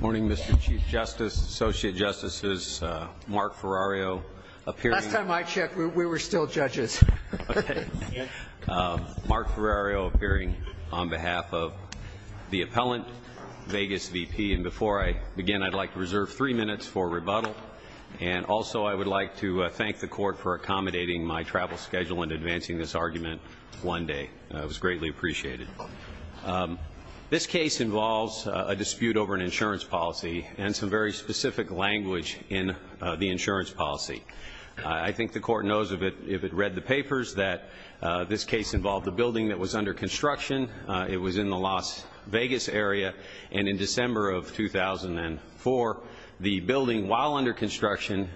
Morning Mr. Chief Justice, Associate Justices, Mark Ferrario appearing on behalf of the appellant, Vegas VP, and before I begin I'd like to reserve three minutes for rebuttal and also I would like to thank the court for accommodating my travel schedule and advancing this argument one day. It was greatly appreciated. This case involves a dispute over an insurance policy and some very specific language in the insurance policy. I think the court knows if it read the papers that this case involved a building that was under construction, it was in the Las Vegas area, and in December of 2004 the building, while under construction,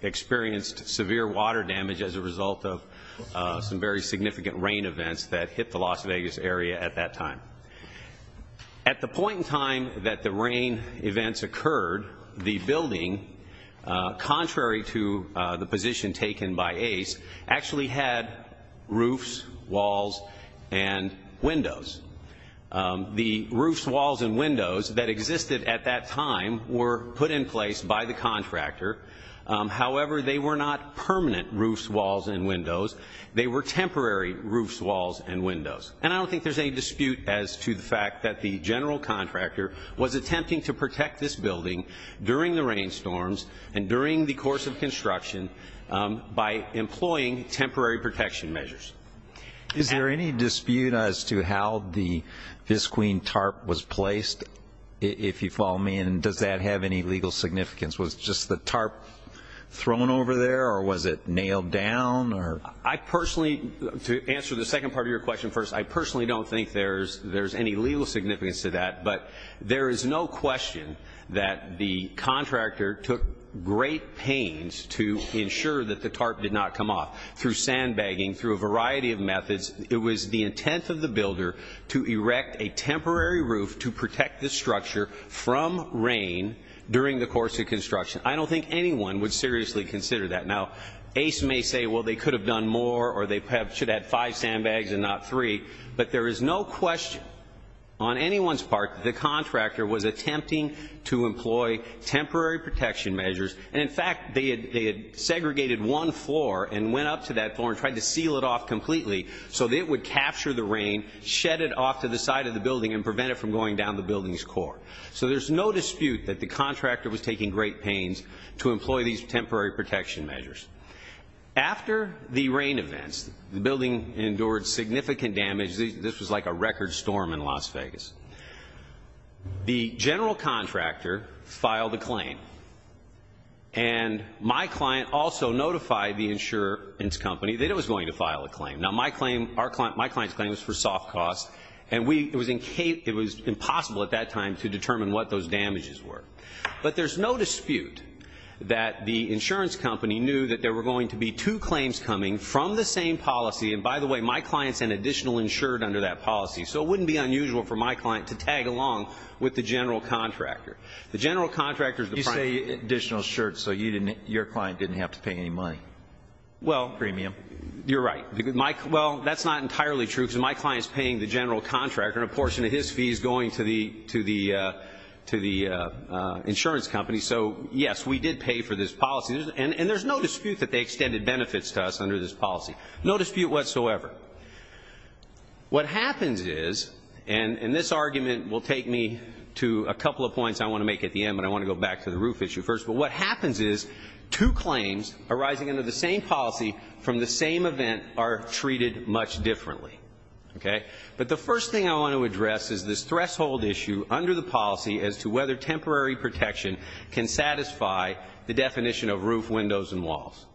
experienced severe water damage as a result of some very significant rain events that hit the Las Vegas area. At the point in time that the rain events occurred, the building, contrary to the position taken by Ace, actually had roofs, walls, and windows. The roofs, walls, and windows that existed at that time were put in place by the contractor. However, they were not permanent roofs, walls, and windows. They were temporary roofs, walls, and windows. And I don't think there's any dispute as to the fact that the general contractor was attempting to protect this building during the rainstorms and during the course of construction by employing temporary protection measures. Is there any dispute as to how the Fisqueen tarp was placed, if you follow me, and does that have any legal significance? Was just the tarp thrown over there or was it nailed down? To answer the second part of your question first, I personally don't think there's any legal significance to that, but there is no question that the contractor took great pains to ensure that the tarp did not come off. Through sandbagging, through a variety of methods, it was the intent of the builder to erect a temporary roof to protect the structure from rain during the course of construction. I don't think anyone would seriously consider that. Now, ACE may say, well, they could have done more or they should have had five sandbags and not three, but there is no question on anyone's part that the contractor was attempting to employ temporary protection measures. And, in fact, they had segregated one floor and went up to that floor and tried to seal it off completely so that it would capture the rain, shed it off to the side of the building, and prevent it from going down the building's core. So there's no dispute that the contractor was taking great pains to employ these temporary protection measures. After the rain events, the building endured significant damage. This was like a record storm in Las Vegas. The general contractor filed a claim, and my client also notified the insurance company that it was going to file a claim. Now, my client's claim was for soft costs, and it was impossible at that time to determine what those damages were. But there's no dispute that the insurance company knew that there were going to be two claims coming from the same policy. And, by the way, my client sent additional insured under that policy, so it wouldn't be unusual for my client to tag along with the general contractor. The general contractor is the primary. You say additional insured so your client didn't have to pay any money? Well, you're right. Well, that's not entirely true because my client's paying the general contractor, and a portion of his fee is going to the insurance company. So, yes, we did pay for this policy. And there's no dispute that they extended benefits to us under this policy. No dispute whatsoever. What happens is, and this argument will take me to a couple of points I want to make at the end, but I want to go back to the roof issue first. But what happens is two claims arising under the same policy from the same event are treated much differently. Okay? But the first thing I want to address is this threshold issue under the policy as to whether temporary protection can satisfy the definition of roof, windows, and walls.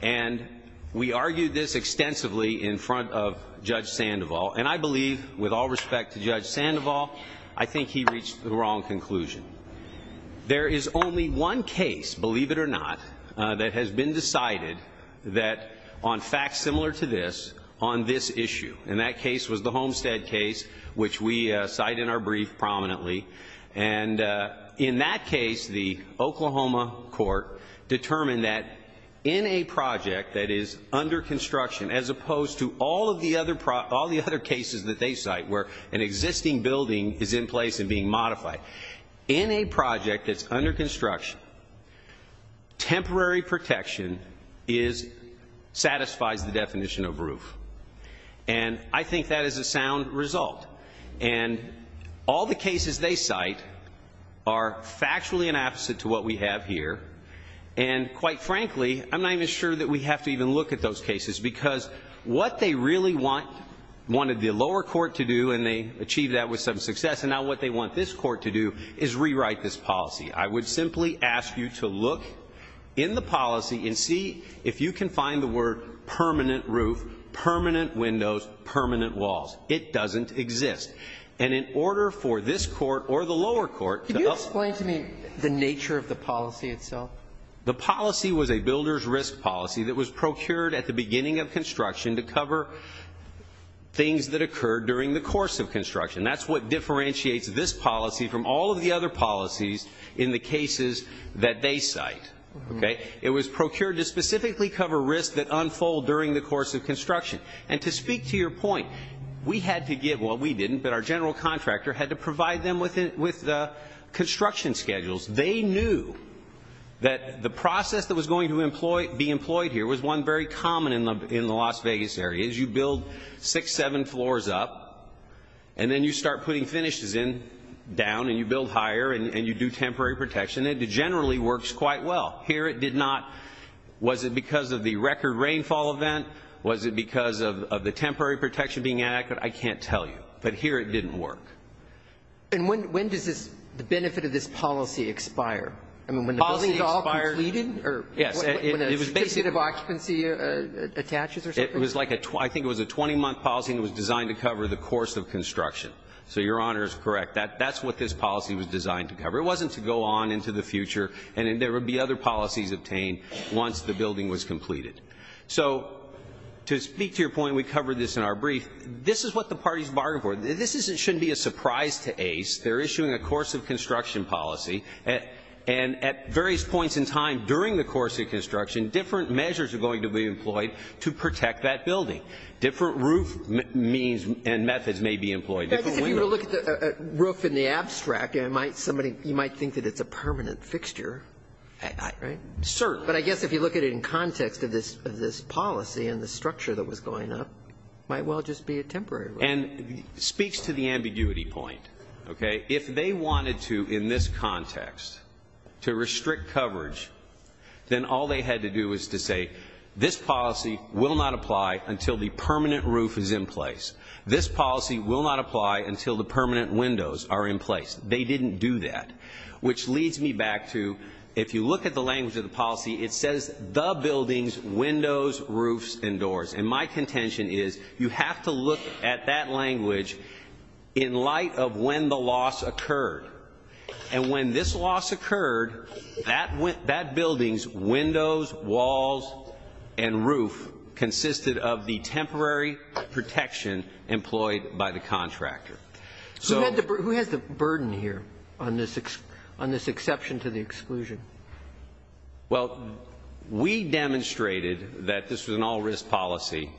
And we argued this extensively in front of Judge Sandoval, and I believe, with all respect to Judge Sandoval, I think he reached the wrong conclusion. There is only one case, believe it or not, that has been decided that on facts similar to this, on this issue. And that case was the Homestead case, which we cite in our brief prominently. And in that case, the Oklahoma court determined that in a project that is under construction, as opposed to all of the other cases that they cite, where an existing building is in place and being modified, in a project that's under construction, temporary protection satisfies the definition of roof. And I think that is a sound result. And all the cases they cite are factually an opposite to what we have here. And quite frankly, I'm not even sure that we have to even look at those cases. Because what they really wanted the lower court to do, and they achieved that with some success, and now what they want this court to do is rewrite this policy. I would simply ask you to look in the policy and see if you can find the word permanent roof, permanent windows, permanent walls. It doesn't exist. And in order for this court or the lower court to uphold it. Could you explain to me the nature of the policy itself? The policy was a builder's risk policy that was procured at the beginning of construction to cover things that occurred during the course of construction. That's what differentiates this policy from all of the other policies in the cases that they cite. Okay? It was procured to specifically cover risks that unfold during the course of construction. And to speak to your point, we had to get, well, we didn't, but our general contractor had to provide them with construction schedules. They knew that the process that was going to be employed here was one very common in the Las Vegas area. You build six, seven floors up, and then you start putting finishes in down, and you build higher, and you do temporary protection. And it generally works quite well. Here it did not. Was it because of the record rainfall event? Was it because of the temporary protection being adequate? I can't tell you. But here it didn't work. And when does the benefit of this policy expire? I mean, when the building is all completed? Yes. When a specific occupancy attaches or something? I think it was a 20-month policy, and it was designed to cover the course of construction. So your Honor is correct. That's what this policy was designed to cover. It wasn't to go on into the future, and there would be other policies obtained once the building was completed. So to speak to your point, we covered this in our brief. This is what the parties bargained for. This shouldn't be a surprise to ACE. They're issuing a course of construction policy, and at various points in time during the course of construction, different measures are going to be employed to protect that building. Different roof means and methods may be employed. If you look at the roof in the abstract, you might think that it's a permanent fixture, right? Certainly. But I guess if you look at it in context of this policy and the structure that was going up, it might well just be a temporary roof. And it speaks to the ambiguity point, okay? If they wanted to, in this context, to restrict coverage, then all they had to do was to say, this policy will not apply until the permanent roof is in place. This policy will not apply until the permanent windows are in place. They didn't do that. Which leads me back to if you look at the language of the policy, it says the buildings, windows, roofs, and doors. And my contention is you have to look at that language in light of when the loss occurred. And when this loss occurred, that building's windows, walls, and roof consisted of the temporary protection employed by the contractor. Who has the burden here on this exception to the exclusion? Well, we demonstrated that this was an all-risk policy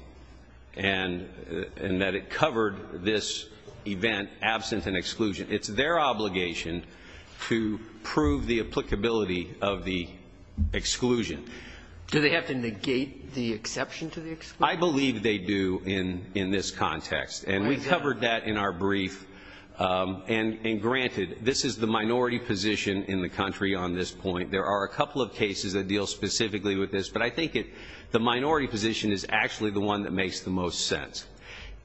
and that it covered this event absent an exclusion. It's their obligation to prove the applicability of the exclusion. Do they have to negate the exception to the exclusion? I believe they do in this context. And we covered that in our brief. And granted, this is the minority position in the country on this point. There are a couple of cases that deal specifically with this. But I think the minority position is actually the one that makes the most sense.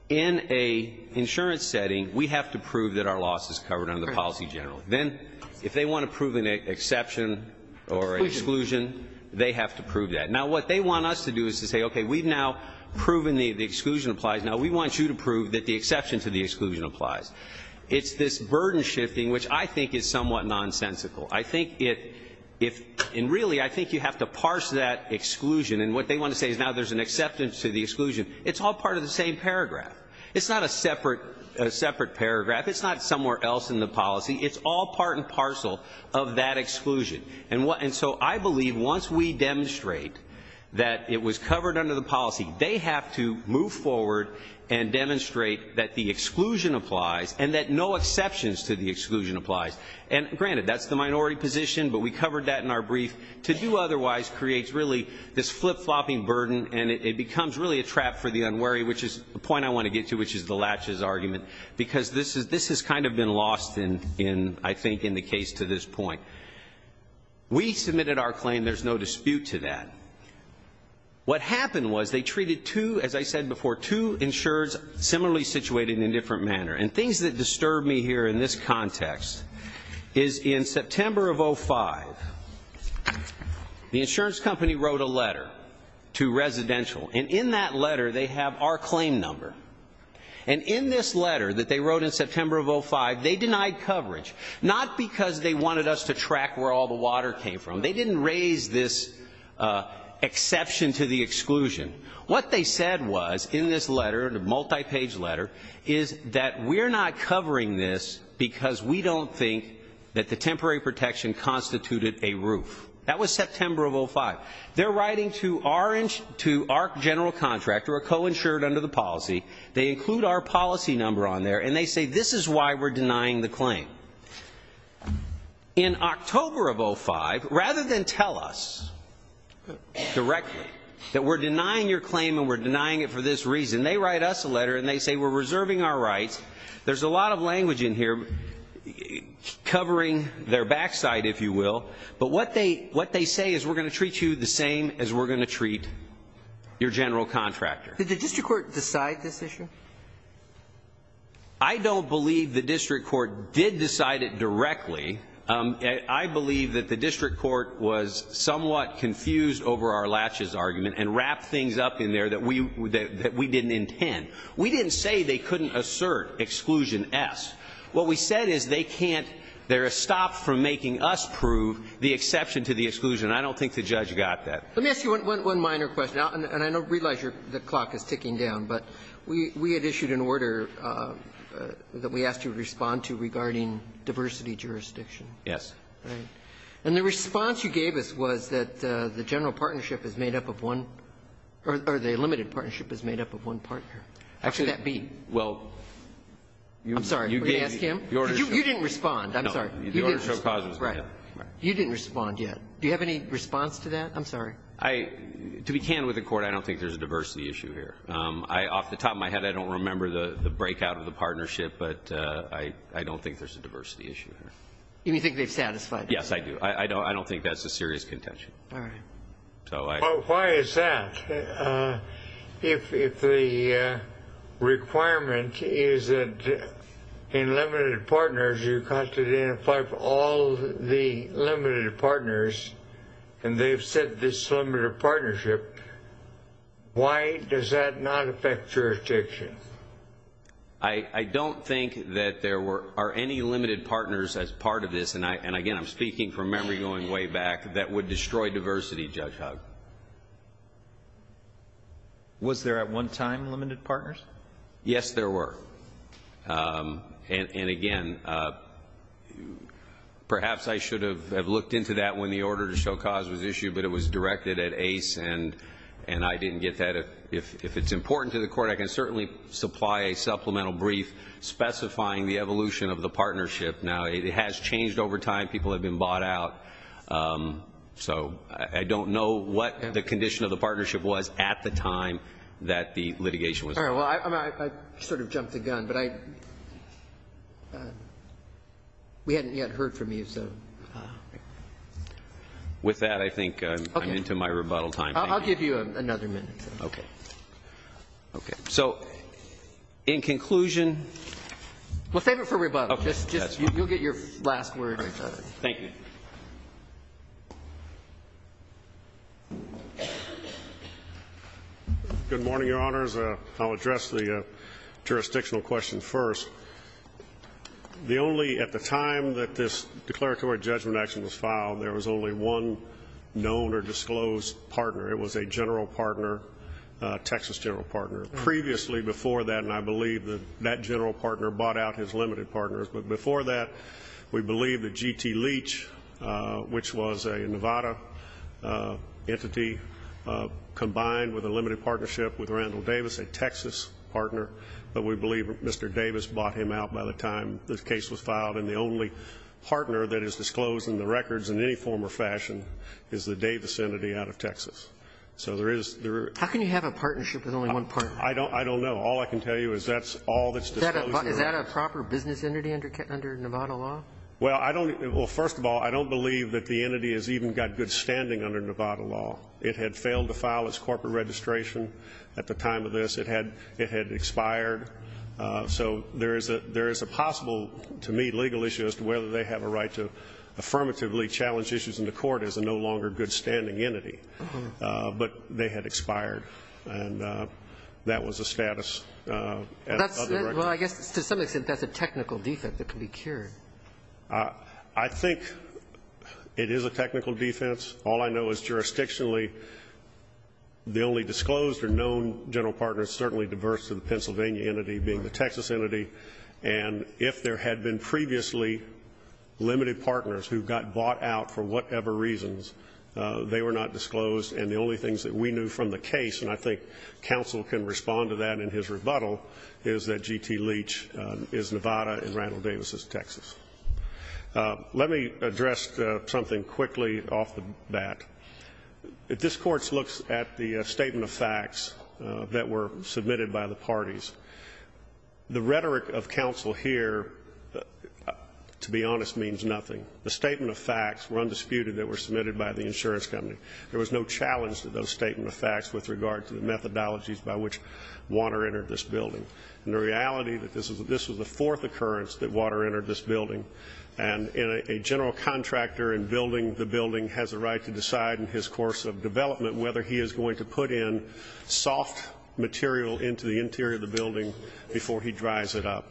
In an insurance setting, we have to prove that our loss is covered under the policy generally. Then if they want to prove an exception or an exclusion, they have to prove that. Now, what they want us to do is to say, okay, we've now proven the exclusion applies. Now, we want you to prove that the exception to the exclusion applies. It's this burden shifting, which I think is somewhat nonsensical. I think it, if, and really I think you have to parse that exclusion. And what they want to say is now there's an acceptance to the exclusion. It's all part of the same paragraph. It's not a separate paragraph. It's not somewhere else in the policy. It's all part and parcel of that exclusion. And so I believe once we demonstrate that it was covered under the policy, they have to move forward and demonstrate that the exclusion applies and that no exceptions to the exclusion applies. And granted, that's the minority position, but we covered that in our brief. To do otherwise creates really this flip-flopping burden, and it becomes really a trap for the unwary, which is the point I want to get to, which is the latches argument, because this has kind of been lost in, I think, in the case to this point. We submitted our claim. There's no dispute to that. What happened was they treated two, as I said before, two insurers similarly situated in a different manner. And things that disturb me here in this context is in September of 2005, the insurance company wrote a letter to Residential, and in that letter they have our claim number. And in this letter that they wrote in September of 2005, they denied coverage, not because they wanted us to track where all the water came from. They didn't raise this exception to the exclusion. What they said was in this letter, the multi-page letter, is that we're not covering this because we don't think that the temporary protection constituted a roof. That was September of 2005. They're writing to our general contractor, a co-insured under the policy. They include our policy number on there, and they say this is why we're denying the claim. In October of 2005, rather than tell us directly that we're denying your claim and we're denying it for this reason, they write us a letter and they say we're reserving our rights. There's a lot of language in here covering their backside, if you will. But what they say is we're going to treat you the same as we're going to treat your general contractor. Did the district court decide this issue? I don't believe the district court did decide it directly. I believe that the district court was somewhat confused over our latches argument and wrapped things up in there that we didn't intend. We didn't say they couldn't assert exclusion S. What we said is they can't. They're stopped from making us prove the exception to the exclusion. I don't think the judge got that. Let me ask you one minor question. And I don't realize the clock is ticking down, but we had issued an order that we asked you to respond to regarding diversity jurisdiction. Yes. And the response you gave us was that the general partnership is made up of one or the limited partnership is made up of one partner. How could that be? I'm sorry. You didn't respond. I'm sorry. You didn't respond yet. Do you have any response to that? I'm sorry. To be candid with the court, I don't think there's a diversity issue here. Off the top of my head, I don't remember the breakout of the partnership, but I don't think there's a diversity issue here. You mean you think they've satisfied it? Yes, I do. I don't think that's a serious contention. All right. Why is that? If the requirement is that in limited partners, you have to identify all the limited partners, and they've said this limited partnership, why does that not affect jurisdiction? I don't think that there are any limited partners as part of this. And, again, I'm speaking from memory going way back. That would destroy diversity, Judge Hugg. Was there at one time limited partners? Yes, there were. And, again, perhaps I should have looked into that when the order to show cause was issued, but it was directed at ACE, and I didn't get that. If it's important to the court, I can certainly supply a supplemental brief specifying the evolution of the partnership. Now, it has changed over time. People have been bought out. So I don't know what the condition of the partnership was at the time that the litigation was. All right. Well, I sort of jumped the gun, but we hadn't yet heard from you, so. With that, I think I'm into my rebuttal time. I'll give you another minute. Okay. Okay. So, in conclusion. Well, save it for rebuttal. You'll get your last word. Thank you. Good morning, Your Honors. I'll address the jurisdictional question first. The only, at the time that this declaratory judgment action was filed, there was only one known or disclosed partner. It was a general partner, Texas general partner. Previously before that, and I believe that that general partner bought out his G.T. Leach, which was a Nevada entity combined with a limited partnership with Randall Davis, a Texas partner. But we believe Mr. Davis bought him out by the time this case was filed. And the only partner that is disclosed in the records in any form or fashion is the Davis entity out of Texas. So there is. How can you have a partnership with only one partner? I don't know. All I can tell you is that's all that's disclosed. Is that a proper business entity under Nevada law? Well, I don't. Well, first of all, I don't believe that the entity has even got good standing under Nevada law. It had failed to file its corporate registration at the time of this. It had expired. So there is a possible, to me, legal issue as to whether they have a right to affirmatively challenge issues in the court as a no longer good standing entity. But they had expired. And that was the status. Well, I guess to some extent that's a technical defense that can be cured. I think it is a technical defense. All I know is jurisdictionally the only disclosed or known general partner is certainly diverse to the Pennsylvania entity being the Texas entity. And if there had been previously limited partners who got bought out for whatever reasons, they were not disclosed. And the only things that we knew from the case, and I think counsel can respond to that in his rebuttal, is that G.T. Leach is Nevada and Randall Davis is Texas. Let me address something quickly off the bat. If this Court looks at the statement of facts that were submitted by the parties, the rhetoric of counsel here, to be honest, means nothing. The statement of facts were undisputed that were submitted by the insurance company. There was no challenge to those statement of facts with regard to the methodologies by which Water entered this building. And the reality that this was the fourth occurrence that Water entered this building. And a general contractor in building the building has a right to decide in his course of development whether he is going to put in soft material into the interior of the building before he dries it up.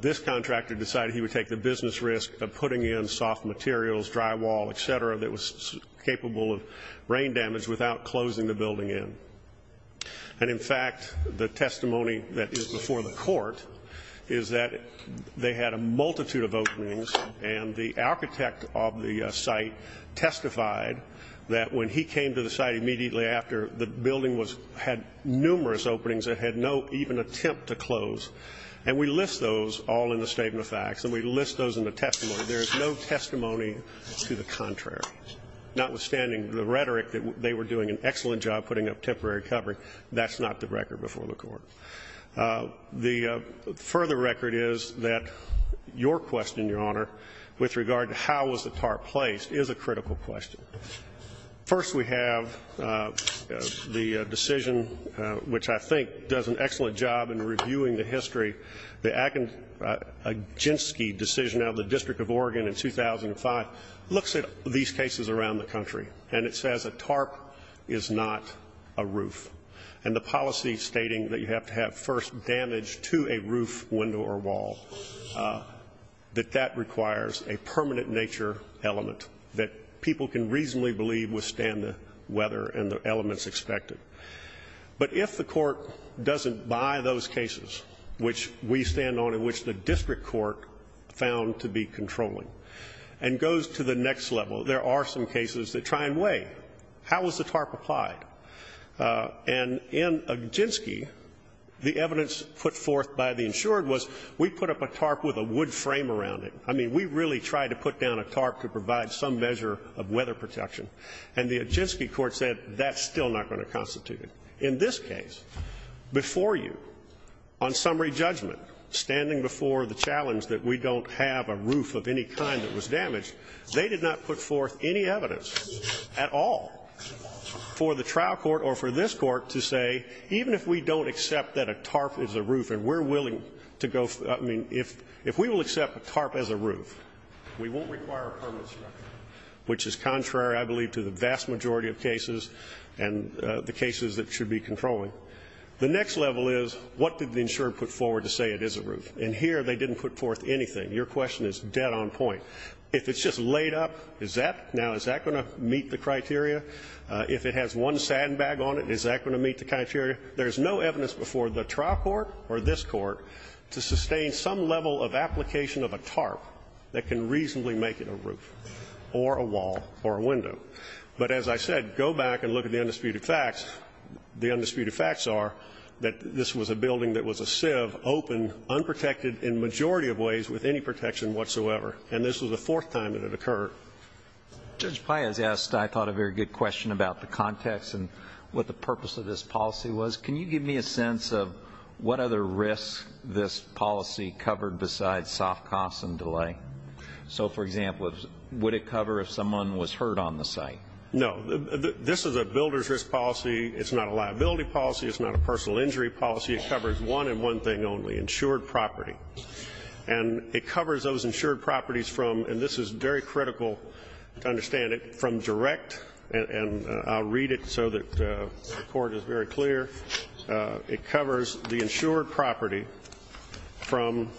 This contractor decided he would take the business risk of putting in soft materials, drywall, et cetera, that was capable of rain damage without closing the building in. And, in fact, the testimony that is before the Court is that they had a multitude of openings, and the architect of the site testified that when he came to the site immediately after, the building had numerous openings that had no even attempt to close. And we list those all in the statement of facts, and we list those in the testimony. There is no testimony to the contrary. Notwithstanding the rhetoric that they were doing an excellent job putting up temporary covering, that's not the record before the Court. The further record is that your question, Your Honor, with regard to how was the tar placed is a critical question. First, we have the decision which I think does an excellent job in reviewing the history, the Aginski decision out of the District of Oregon in 2005 looks at these cases around the country, and it says a tarp is not a roof. And the policy stating that you have to have first damage to a roof, window, or wall, that that requires a permanent nature element that people can reasonably believe withstand the weather and the elements expected. But if the court doesn't buy those cases which we stand on and which the district court found to be controlling and goes to the next level, there are some cases that try and weigh how was the tarp applied. And in Aginski, the evidence put forth by the insured was we put up a tarp with a wood frame around it. I mean, we really tried to put down a tarp to provide some measure of weather protection. And the Aginski court said that's still not going to constitute it. In this case, before you, on summary judgment, standing before the challenge that we don't have a roof of any kind that was damaged, they did not put forth any evidence at all for the trial court or for this court to say, even if we don't accept that a tarp is a roof and we're willing to go, I mean, if we will accept a tarp as a roof, we won't require a permanent structure, which is contrary, I believe, to the vast majority of cases and the cases that should be controlling. The next level is, what did the insured put forward to say it is a roof? And here they didn't put forth anything. Your question is dead on point. If it's just laid up, is that, now, is that going to meet the criteria? If it has one sandbag on it, is that going to meet the criteria? There's no evidence before the trial court or this court to sustain some level of application of a tarp that can reasonably make it a roof or a wall or a window. But, as I said, go back and look at the undisputed facts. The undisputed facts are that this was a building that was a sieve, open, unprotected in a majority of ways with any protection whatsoever. And this was the fourth time that it occurred. Judge Payaz asked, I thought, a very good question about the context and what the purpose of this policy was. Can you give me a sense of what other risks this policy covered besides soft costs and delay? So, for example, would it cover if someone was hurt on the site? No. This is a builder's risk policy. It's not a liability policy. It's not a personal injury policy. It covers one and one thing only, insured property. And it covers those insured properties from, and this is very critical to understand it, from direct, and I'll read it so that the Court is very clear. It covers the insured property from.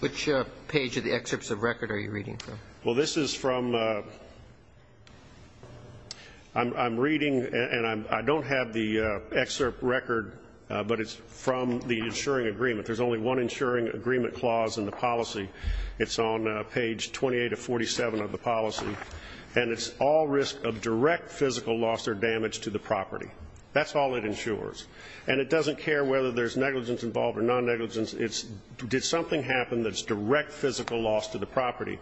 Which page of the excerpts of record are you reading from? Well, this is from, I'm reading, and I don't have the excerpt record, but it's from the insuring agreement. There's only one insuring agreement clause in the policy. It's on page 28 of 47 of the policy. And it's all risk of direct physical loss or damage to the property. That's all it insures. And it doesn't care whether there's negligence involved or non-negligence. It's did something happen that's direct physical loss to the property.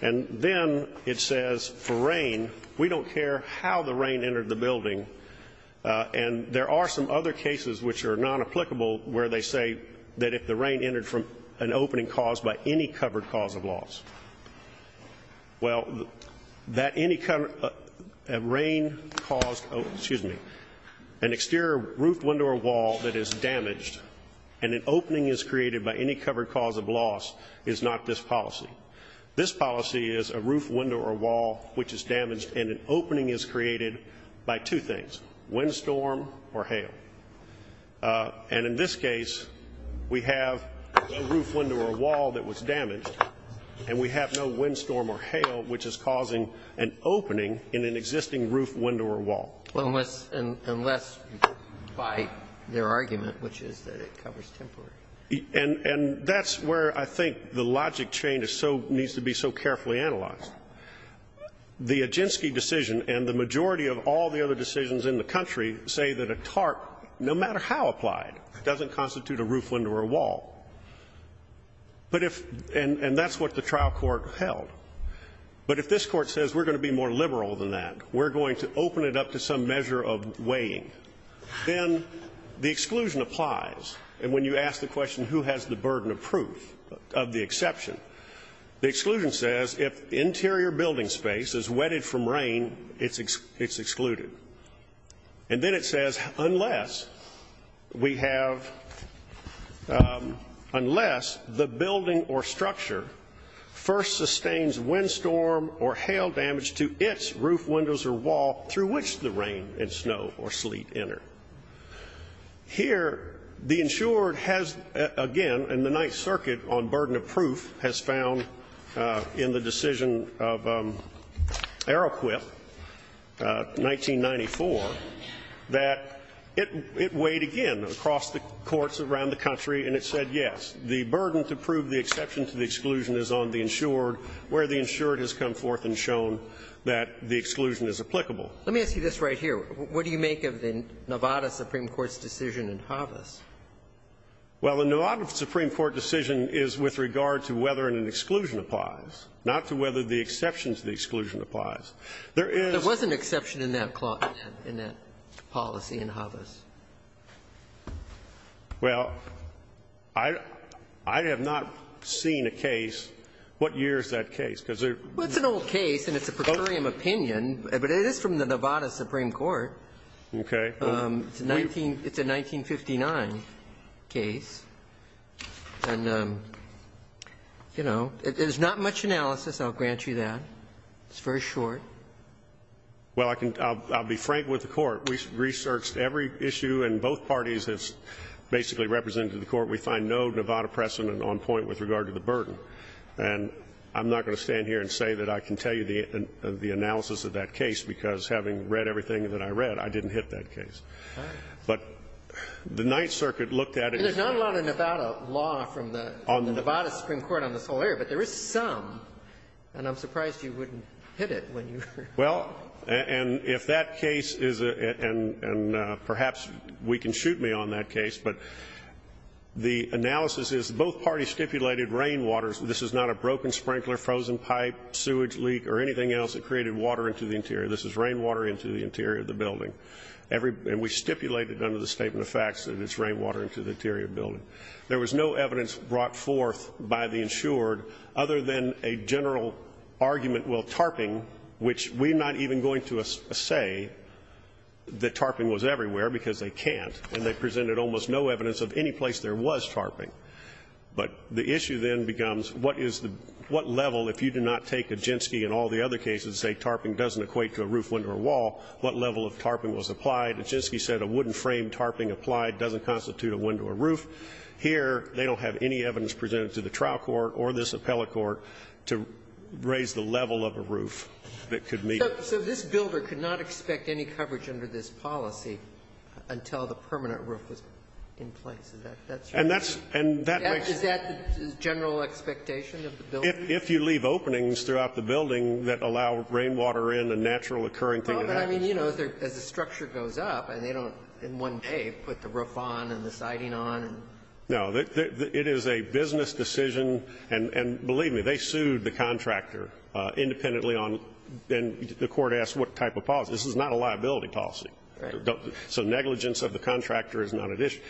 And then it says for rain, we don't care how the rain entered the building. And there are some other cases which are non-applicable where they say that if the rain entered from an opening caused by any covered cause of loss, well, that any rain caused, excuse me, an exterior roof, window, or wall that is damaged and an opening is created by any covered cause of loss is not this policy. This policy is a roof, window, or wall which is damaged and an opening is created by two things, windstorm or hail. And in this case, we have a roof, window, or wall that was damaged. And we have no windstorm or hail which is causing an opening in an existing roof, window, or wall. Well, unless by their argument, which is that it covers temporary. And that's where I think the logic change is so needs to be so carefully analyzed. The Oginski decision and the majority of all the other decisions in the country say that a TARP, no matter how applied, doesn't constitute a roof, window, or wall. But if, and that's what the trial court held. But if this court says we're going to be more liberal than that, we're going to open it up to some measure of weighing, then the exclusion applies. And when you ask the question who has the burden of proof of the exception, the exclusion says if interior building space is wetted from rain, it's excluded. And then it says unless we have, unless the building or structure first sustains windstorm or hail damage to its roof, windows, or wall through which the rain and snow or sleet enter. Here, the insured has, again, and the Ninth Circuit on burden of proof has found in the decision of Arrowquip, 1994, that it weighed again across the courts around the country, and it said yes. The burden to prove the exception to the exclusion is on the insured where the insured has come forth and shown that the exclusion is applicable. Let me ask you this right here. What do you make of the Nevada Supreme Court's decision in Havas? Well, the Nevada Supreme Court decision is with regard to whether an exclusion applies, not to whether the exception to the exclusion applies. There is an exception in that policy in Havas. Well, I have not seen a case. What year is that case? Well, it's an old case, and it's a peculiar opinion, but it is from the Nevada Supreme Court. Okay. It's a 1959 case. And, you know, there's not much analysis. I'll grant you that. It's very short. Well, I'll be frank with the Court. We researched every issue, and both parties have basically represented to the Court we find no Nevada precedent on point with regard to the burden. And I'm not going to stand here and say that I can tell you the analysis of that case, because having read everything that I read, I didn't hit that case. But the Ninth Circuit looked at it. There's not a lot of Nevada law from the Nevada Supreme Court on this whole area, but there is some. And I'm surprised you wouldn't hit it when you heard it. Well, and if that case is and perhaps we can shoot me on that case, but the analysis is both parties stipulated rainwater. This is not a broken sprinkler, frozen pipe, sewage leak, or anything else that created water into the interior. This is rainwater into the interior of the building. And we stipulated under the Statement of Facts that it's rainwater into the interior of the building. There was no evidence brought forth by the insured other than a general argument, well, tarping, which we're not even going to say that tarping was everywhere because they can't, and they presented almost no evidence of any place there was tarping. But the issue then becomes what is the, what level, if you do not take Aginski and all the other cases and say tarping doesn't equate to a roof, window, or wall, what level of tarping was applied? Aginski said a wooden frame tarping applied doesn't constitute a window or roof. Here, they don't have any evidence presented to the trial court or this appellate court to raise the level of a roof that could meet it. So this builder could not expect any coverage under this policy until the permanent roof was in place. Is that right? And that makes Is that the general expectation of the building? If you leave openings throughout the building that allow rainwater in, a natural occurring thing would happen. No, but I mean, you know, as the structure goes up, and they don't in one day put the roof on and the siding on. No. It is a business decision, and believe me, they sued the contractor independently on, and the court asked what type of policy. This is not a liability policy. Right. So negligence of the contractor is not at issue.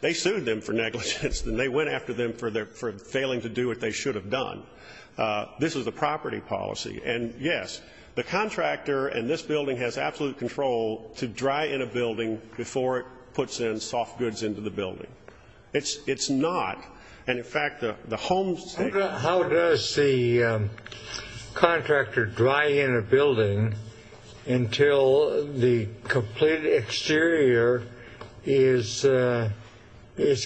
They sued them for negligence, and they went after them for failing to do what they should have done. This is a property policy. And, yes, the contractor and this building has absolute control to dry in a building before it puts in soft goods into the building. It's not. And, in fact, the homes How does the contractor dry in a building until the complete exterior is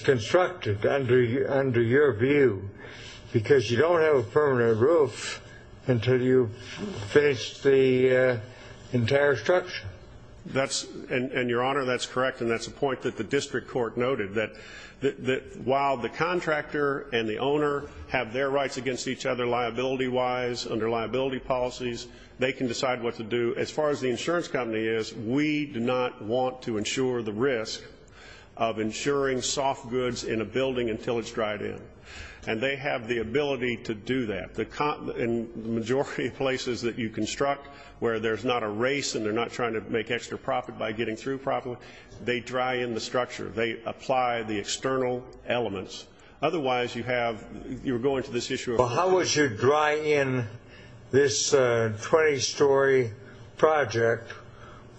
constructed under your view? Because you don't have a permanent roof until you finish the entire structure. And, Your Honor, that's correct, and that's a point that the district court noted, that while the contractor and the owner have their rights against each other liability-wise under liability policies, they can decide what to do. As far as the insurance company is, we do not want to insure the risk of insuring soft goods in a building until it's dried in. And they have the ability to do that. The majority of places that you construct where there's not a race and they're not trying to make extra profit by getting through properly, they dry in the structure. They apply the external elements. Otherwise, you have, you're going to this issue of Well, how would you dry in this 20-story project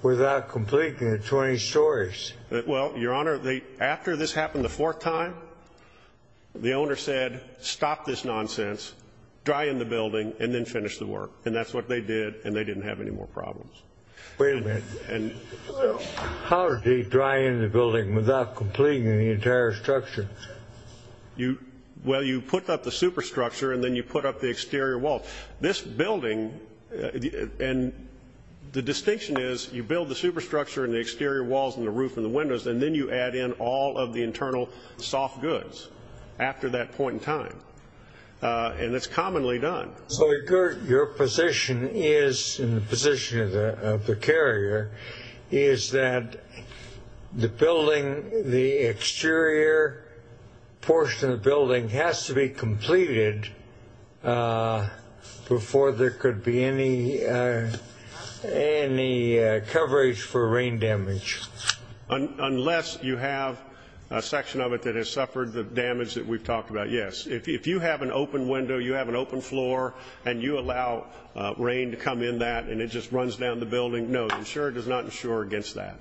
without completing the 20 stories? Well, Your Honor, after this happened the fourth time, the owner said, stop this nonsense, dry in the building, and then finish the work. And that's what they did, and they didn't have any more problems. Wait a minute. How do you dry in the building without completing the entire structure? Well, you put up the superstructure, and then you put up the exterior wall. This building, and the distinction is you build the superstructure and the exterior walls and the roof and the windows, and then you add in all of the internal soft goods after that point in time. And it's commonly done. So your position is, in the position of the carrier, is that the building, the exterior portion of the building has to be completed before there could be any coverage for rain damage? Unless you have a section of it that has suffered the damage that we've talked about, yes. If you have an open window, you have an open floor, and you allow rain to come in that and it just runs down the building, no, the insurer does not insure against that.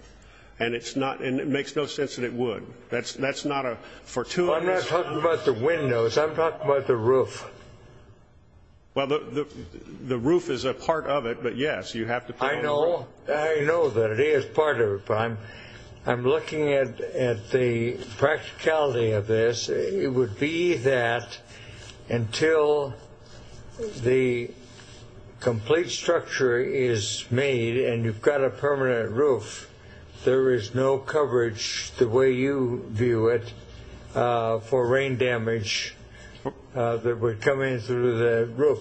And it makes no sense that it would. That's not a fortune. I'm not talking about the windows. I'm talking about the roof. Well, the roof is a part of it, but yes, you have to put in the roof. I know. I know that it is part of it, but I'm looking at the practicality of this. It would be that until the complete structure is made and you've got a permanent roof, there is no coverage the way you view it for rain damage that would come in through the roof.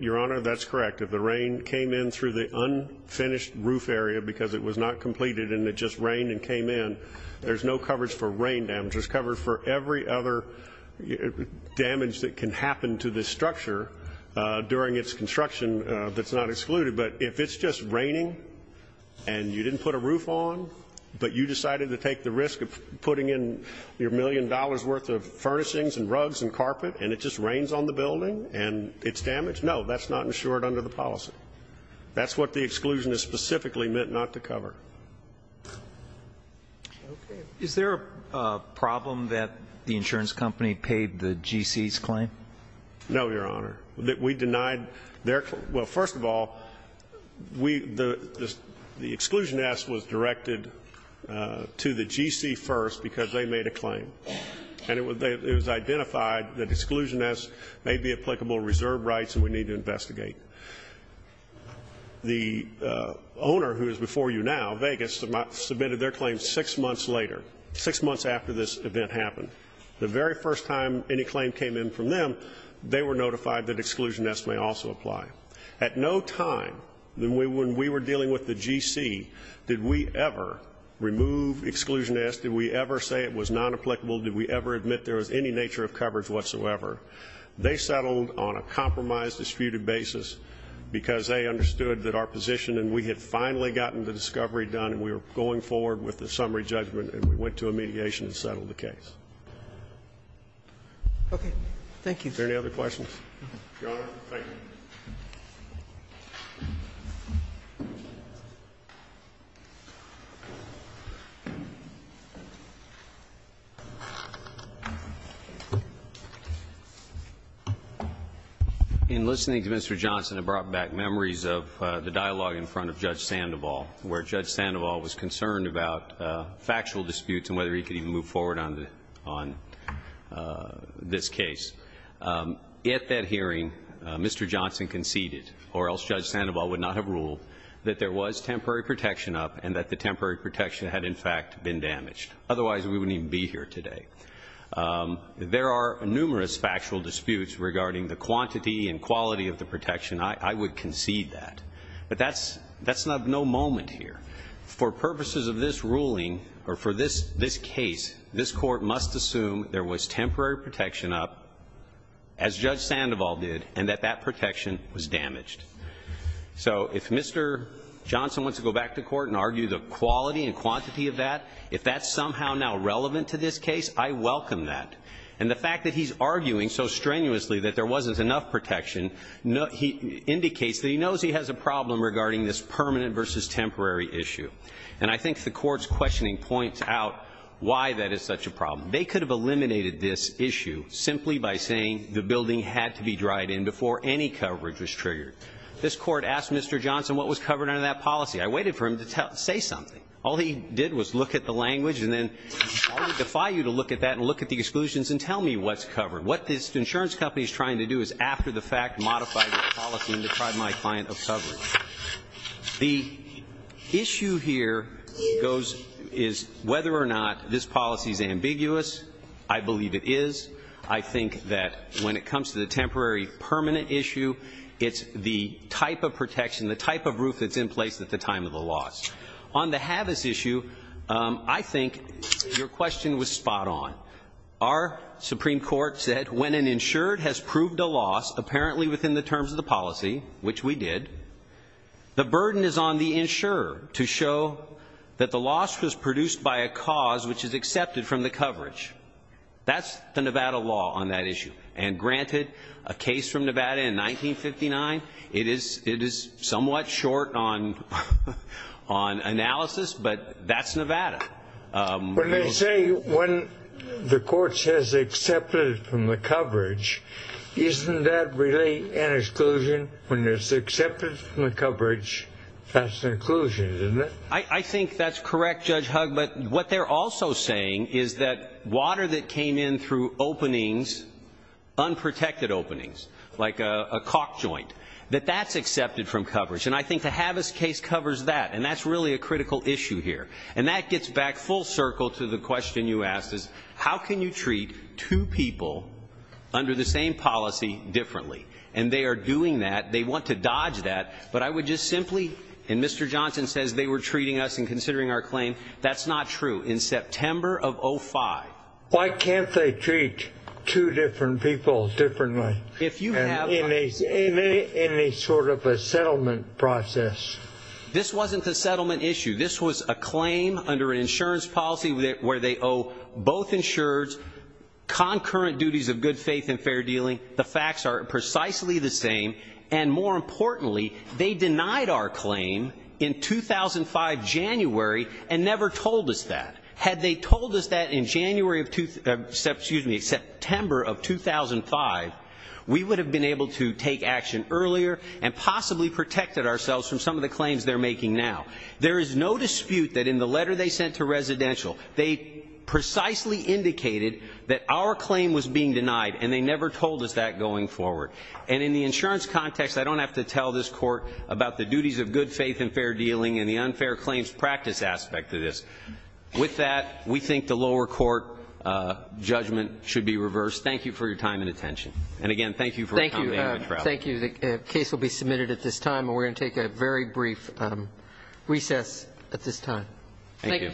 Your Honor, that's correct. If the rain came in through the unfinished roof area because it was not completed and it just rained and came in, there's no coverage for rain damage. There's coverage for every other damage that can happen to this structure during its construction that's not excluded. But if it's just raining and you didn't put a roof on, but you decided to take the risk of putting in your million dollars' worth of furnishings and rugs and carpet and it just rains on the building and it's damaged, no, that's not insured under the policy. That's what the exclusion is specifically meant not to cover. Okay. Is there a problem that the insurance company paid the GC's claim? No, Your Honor. We denied their claim. Well, first of all, the exclusion ask was directed to the GC first because they made a claim. And it was identified that exclusion ask may be applicable to reserve rights and we need to investigate. The owner who is before you now, Vegas, submitted their claim six months later, six months after this event happened. The very first time any claim came in from them, they were notified that exclusion ask may also apply. At no time when we were dealing with the GC did we ever remove exclusion ask, did we ever say it was non-applicable, did we ever admit there was any nature of coverage whatsoever. They settled on a compromise disputed basis because they understood that our position and we had finally gotten the discovery done and we were going forward with the summary judgment and we went to a mediation and settled the case. Okay. Thank you. Your Honor. Thank you. Thank you. In listening to Mr. Johnson, it brought back memories of the dialogue in front of Judge Sandoval where Judge Sandoval was concerned about factual disputes and whether he could even move forward on this case. At that hearing, Mr. Johnson conceded, or else Judge Sandoval would not have ruled, that there was temporary protection up and that the temporary protection had in fact been damaged. Otherwise, we wouldn't even be here today. There are numerous factual disputes regarding the quantity and quality of the protection. I would concede that. But that's no moment here. For purposes of this ruling or for this case, this Court must assume there was temporary protection up, as Judge Sandoval did, and that that protection was damaged. So if Mr. Johnson wants to go back to court and argue the quality and quantity of that, if that's somehow now relevant to this case, I welcome that. And the fact that he's arguing so strenuously that there wasn't enough protection, he indicates that he knows he has a problem regarding this permanent versus temporary issue. And I think the Court's questioning points out why that is such a problem. They could have eliminated this issue simply by saying the building had to be dried in before any coverage was triggered. This Court asked Mr. Johnson what was covered under that policy. I waited for him to say something. All he did was look at the language and then I'll defy you to look at that and look at the exclusions and tell me what's covered. What this insurance company is trying to do is after the fact modify the policy and deprive my client of coverage. The issue here is whether or not this policy is ambiguous. I believe it is. I think that when it comes to the temporary permanent issue, it's the type of protection, the type of roof that's in place at the time of the loss. On the HAVIS issue, I think your question was spot on. Our Supreme Court said when an insured has proved a loss, apparently within the terms of the policy, which we did, the burden is on the insurer to show that the loss was produced by a cause which is accepted from the coverage. That's the Nevada law on that issue. And granted, a case from Nevada in 1959, it is somewhat short on analysis, but that's Nevada. When they say when the court says accepted from the coverage, isn't that really an exclusion? When it's accepted from the coverage, that's an exclusion, isn't it? I think that's correct, Judge Hugg. But what they're also saying is that water that came in through openings, unprotected openings, like a caulk joint, that that's accepted from coverage. And I think the HAVIS case covers that. And that's really a critical issue here. And that gets back full circle to the question you asked, is how can you treat two people under the same policy differently? And they are doing that. They want to dodge that. But I would just simply, and Mr. Johnson says they were treating us and considering our claim. That's not true. In September of 05. Why can't they treat two different people differently in any sort of a settlement process? This wasn't a settlement issue. This was a claim under an insurance policy where they owe both insurers concurrent duties of good faith and fair dealing. The facts are precisely the same. And more importantly, they denied our claim in 2005 January and never told us that. Had they told us that in January of, excuse me, September of 2005, we would have been able to take action earlier and possibly protected ourselves from some of the claims they're making now. There is no dispute that in the letter they sent to residential, they precisely indicated that our claim was being denied, and they never told us that going forward. And in the insurance context, I don't have to tell this court about the duties of good faith and fair dealing and the unfair claims practice aspect of this. With that, we think the lower court judgment should be reversed. Thank you for your time and attention. And, again, thank you for your time. Thank you. The case will be submitted at this time. We're going to take a very brief recess at this time. Thank you.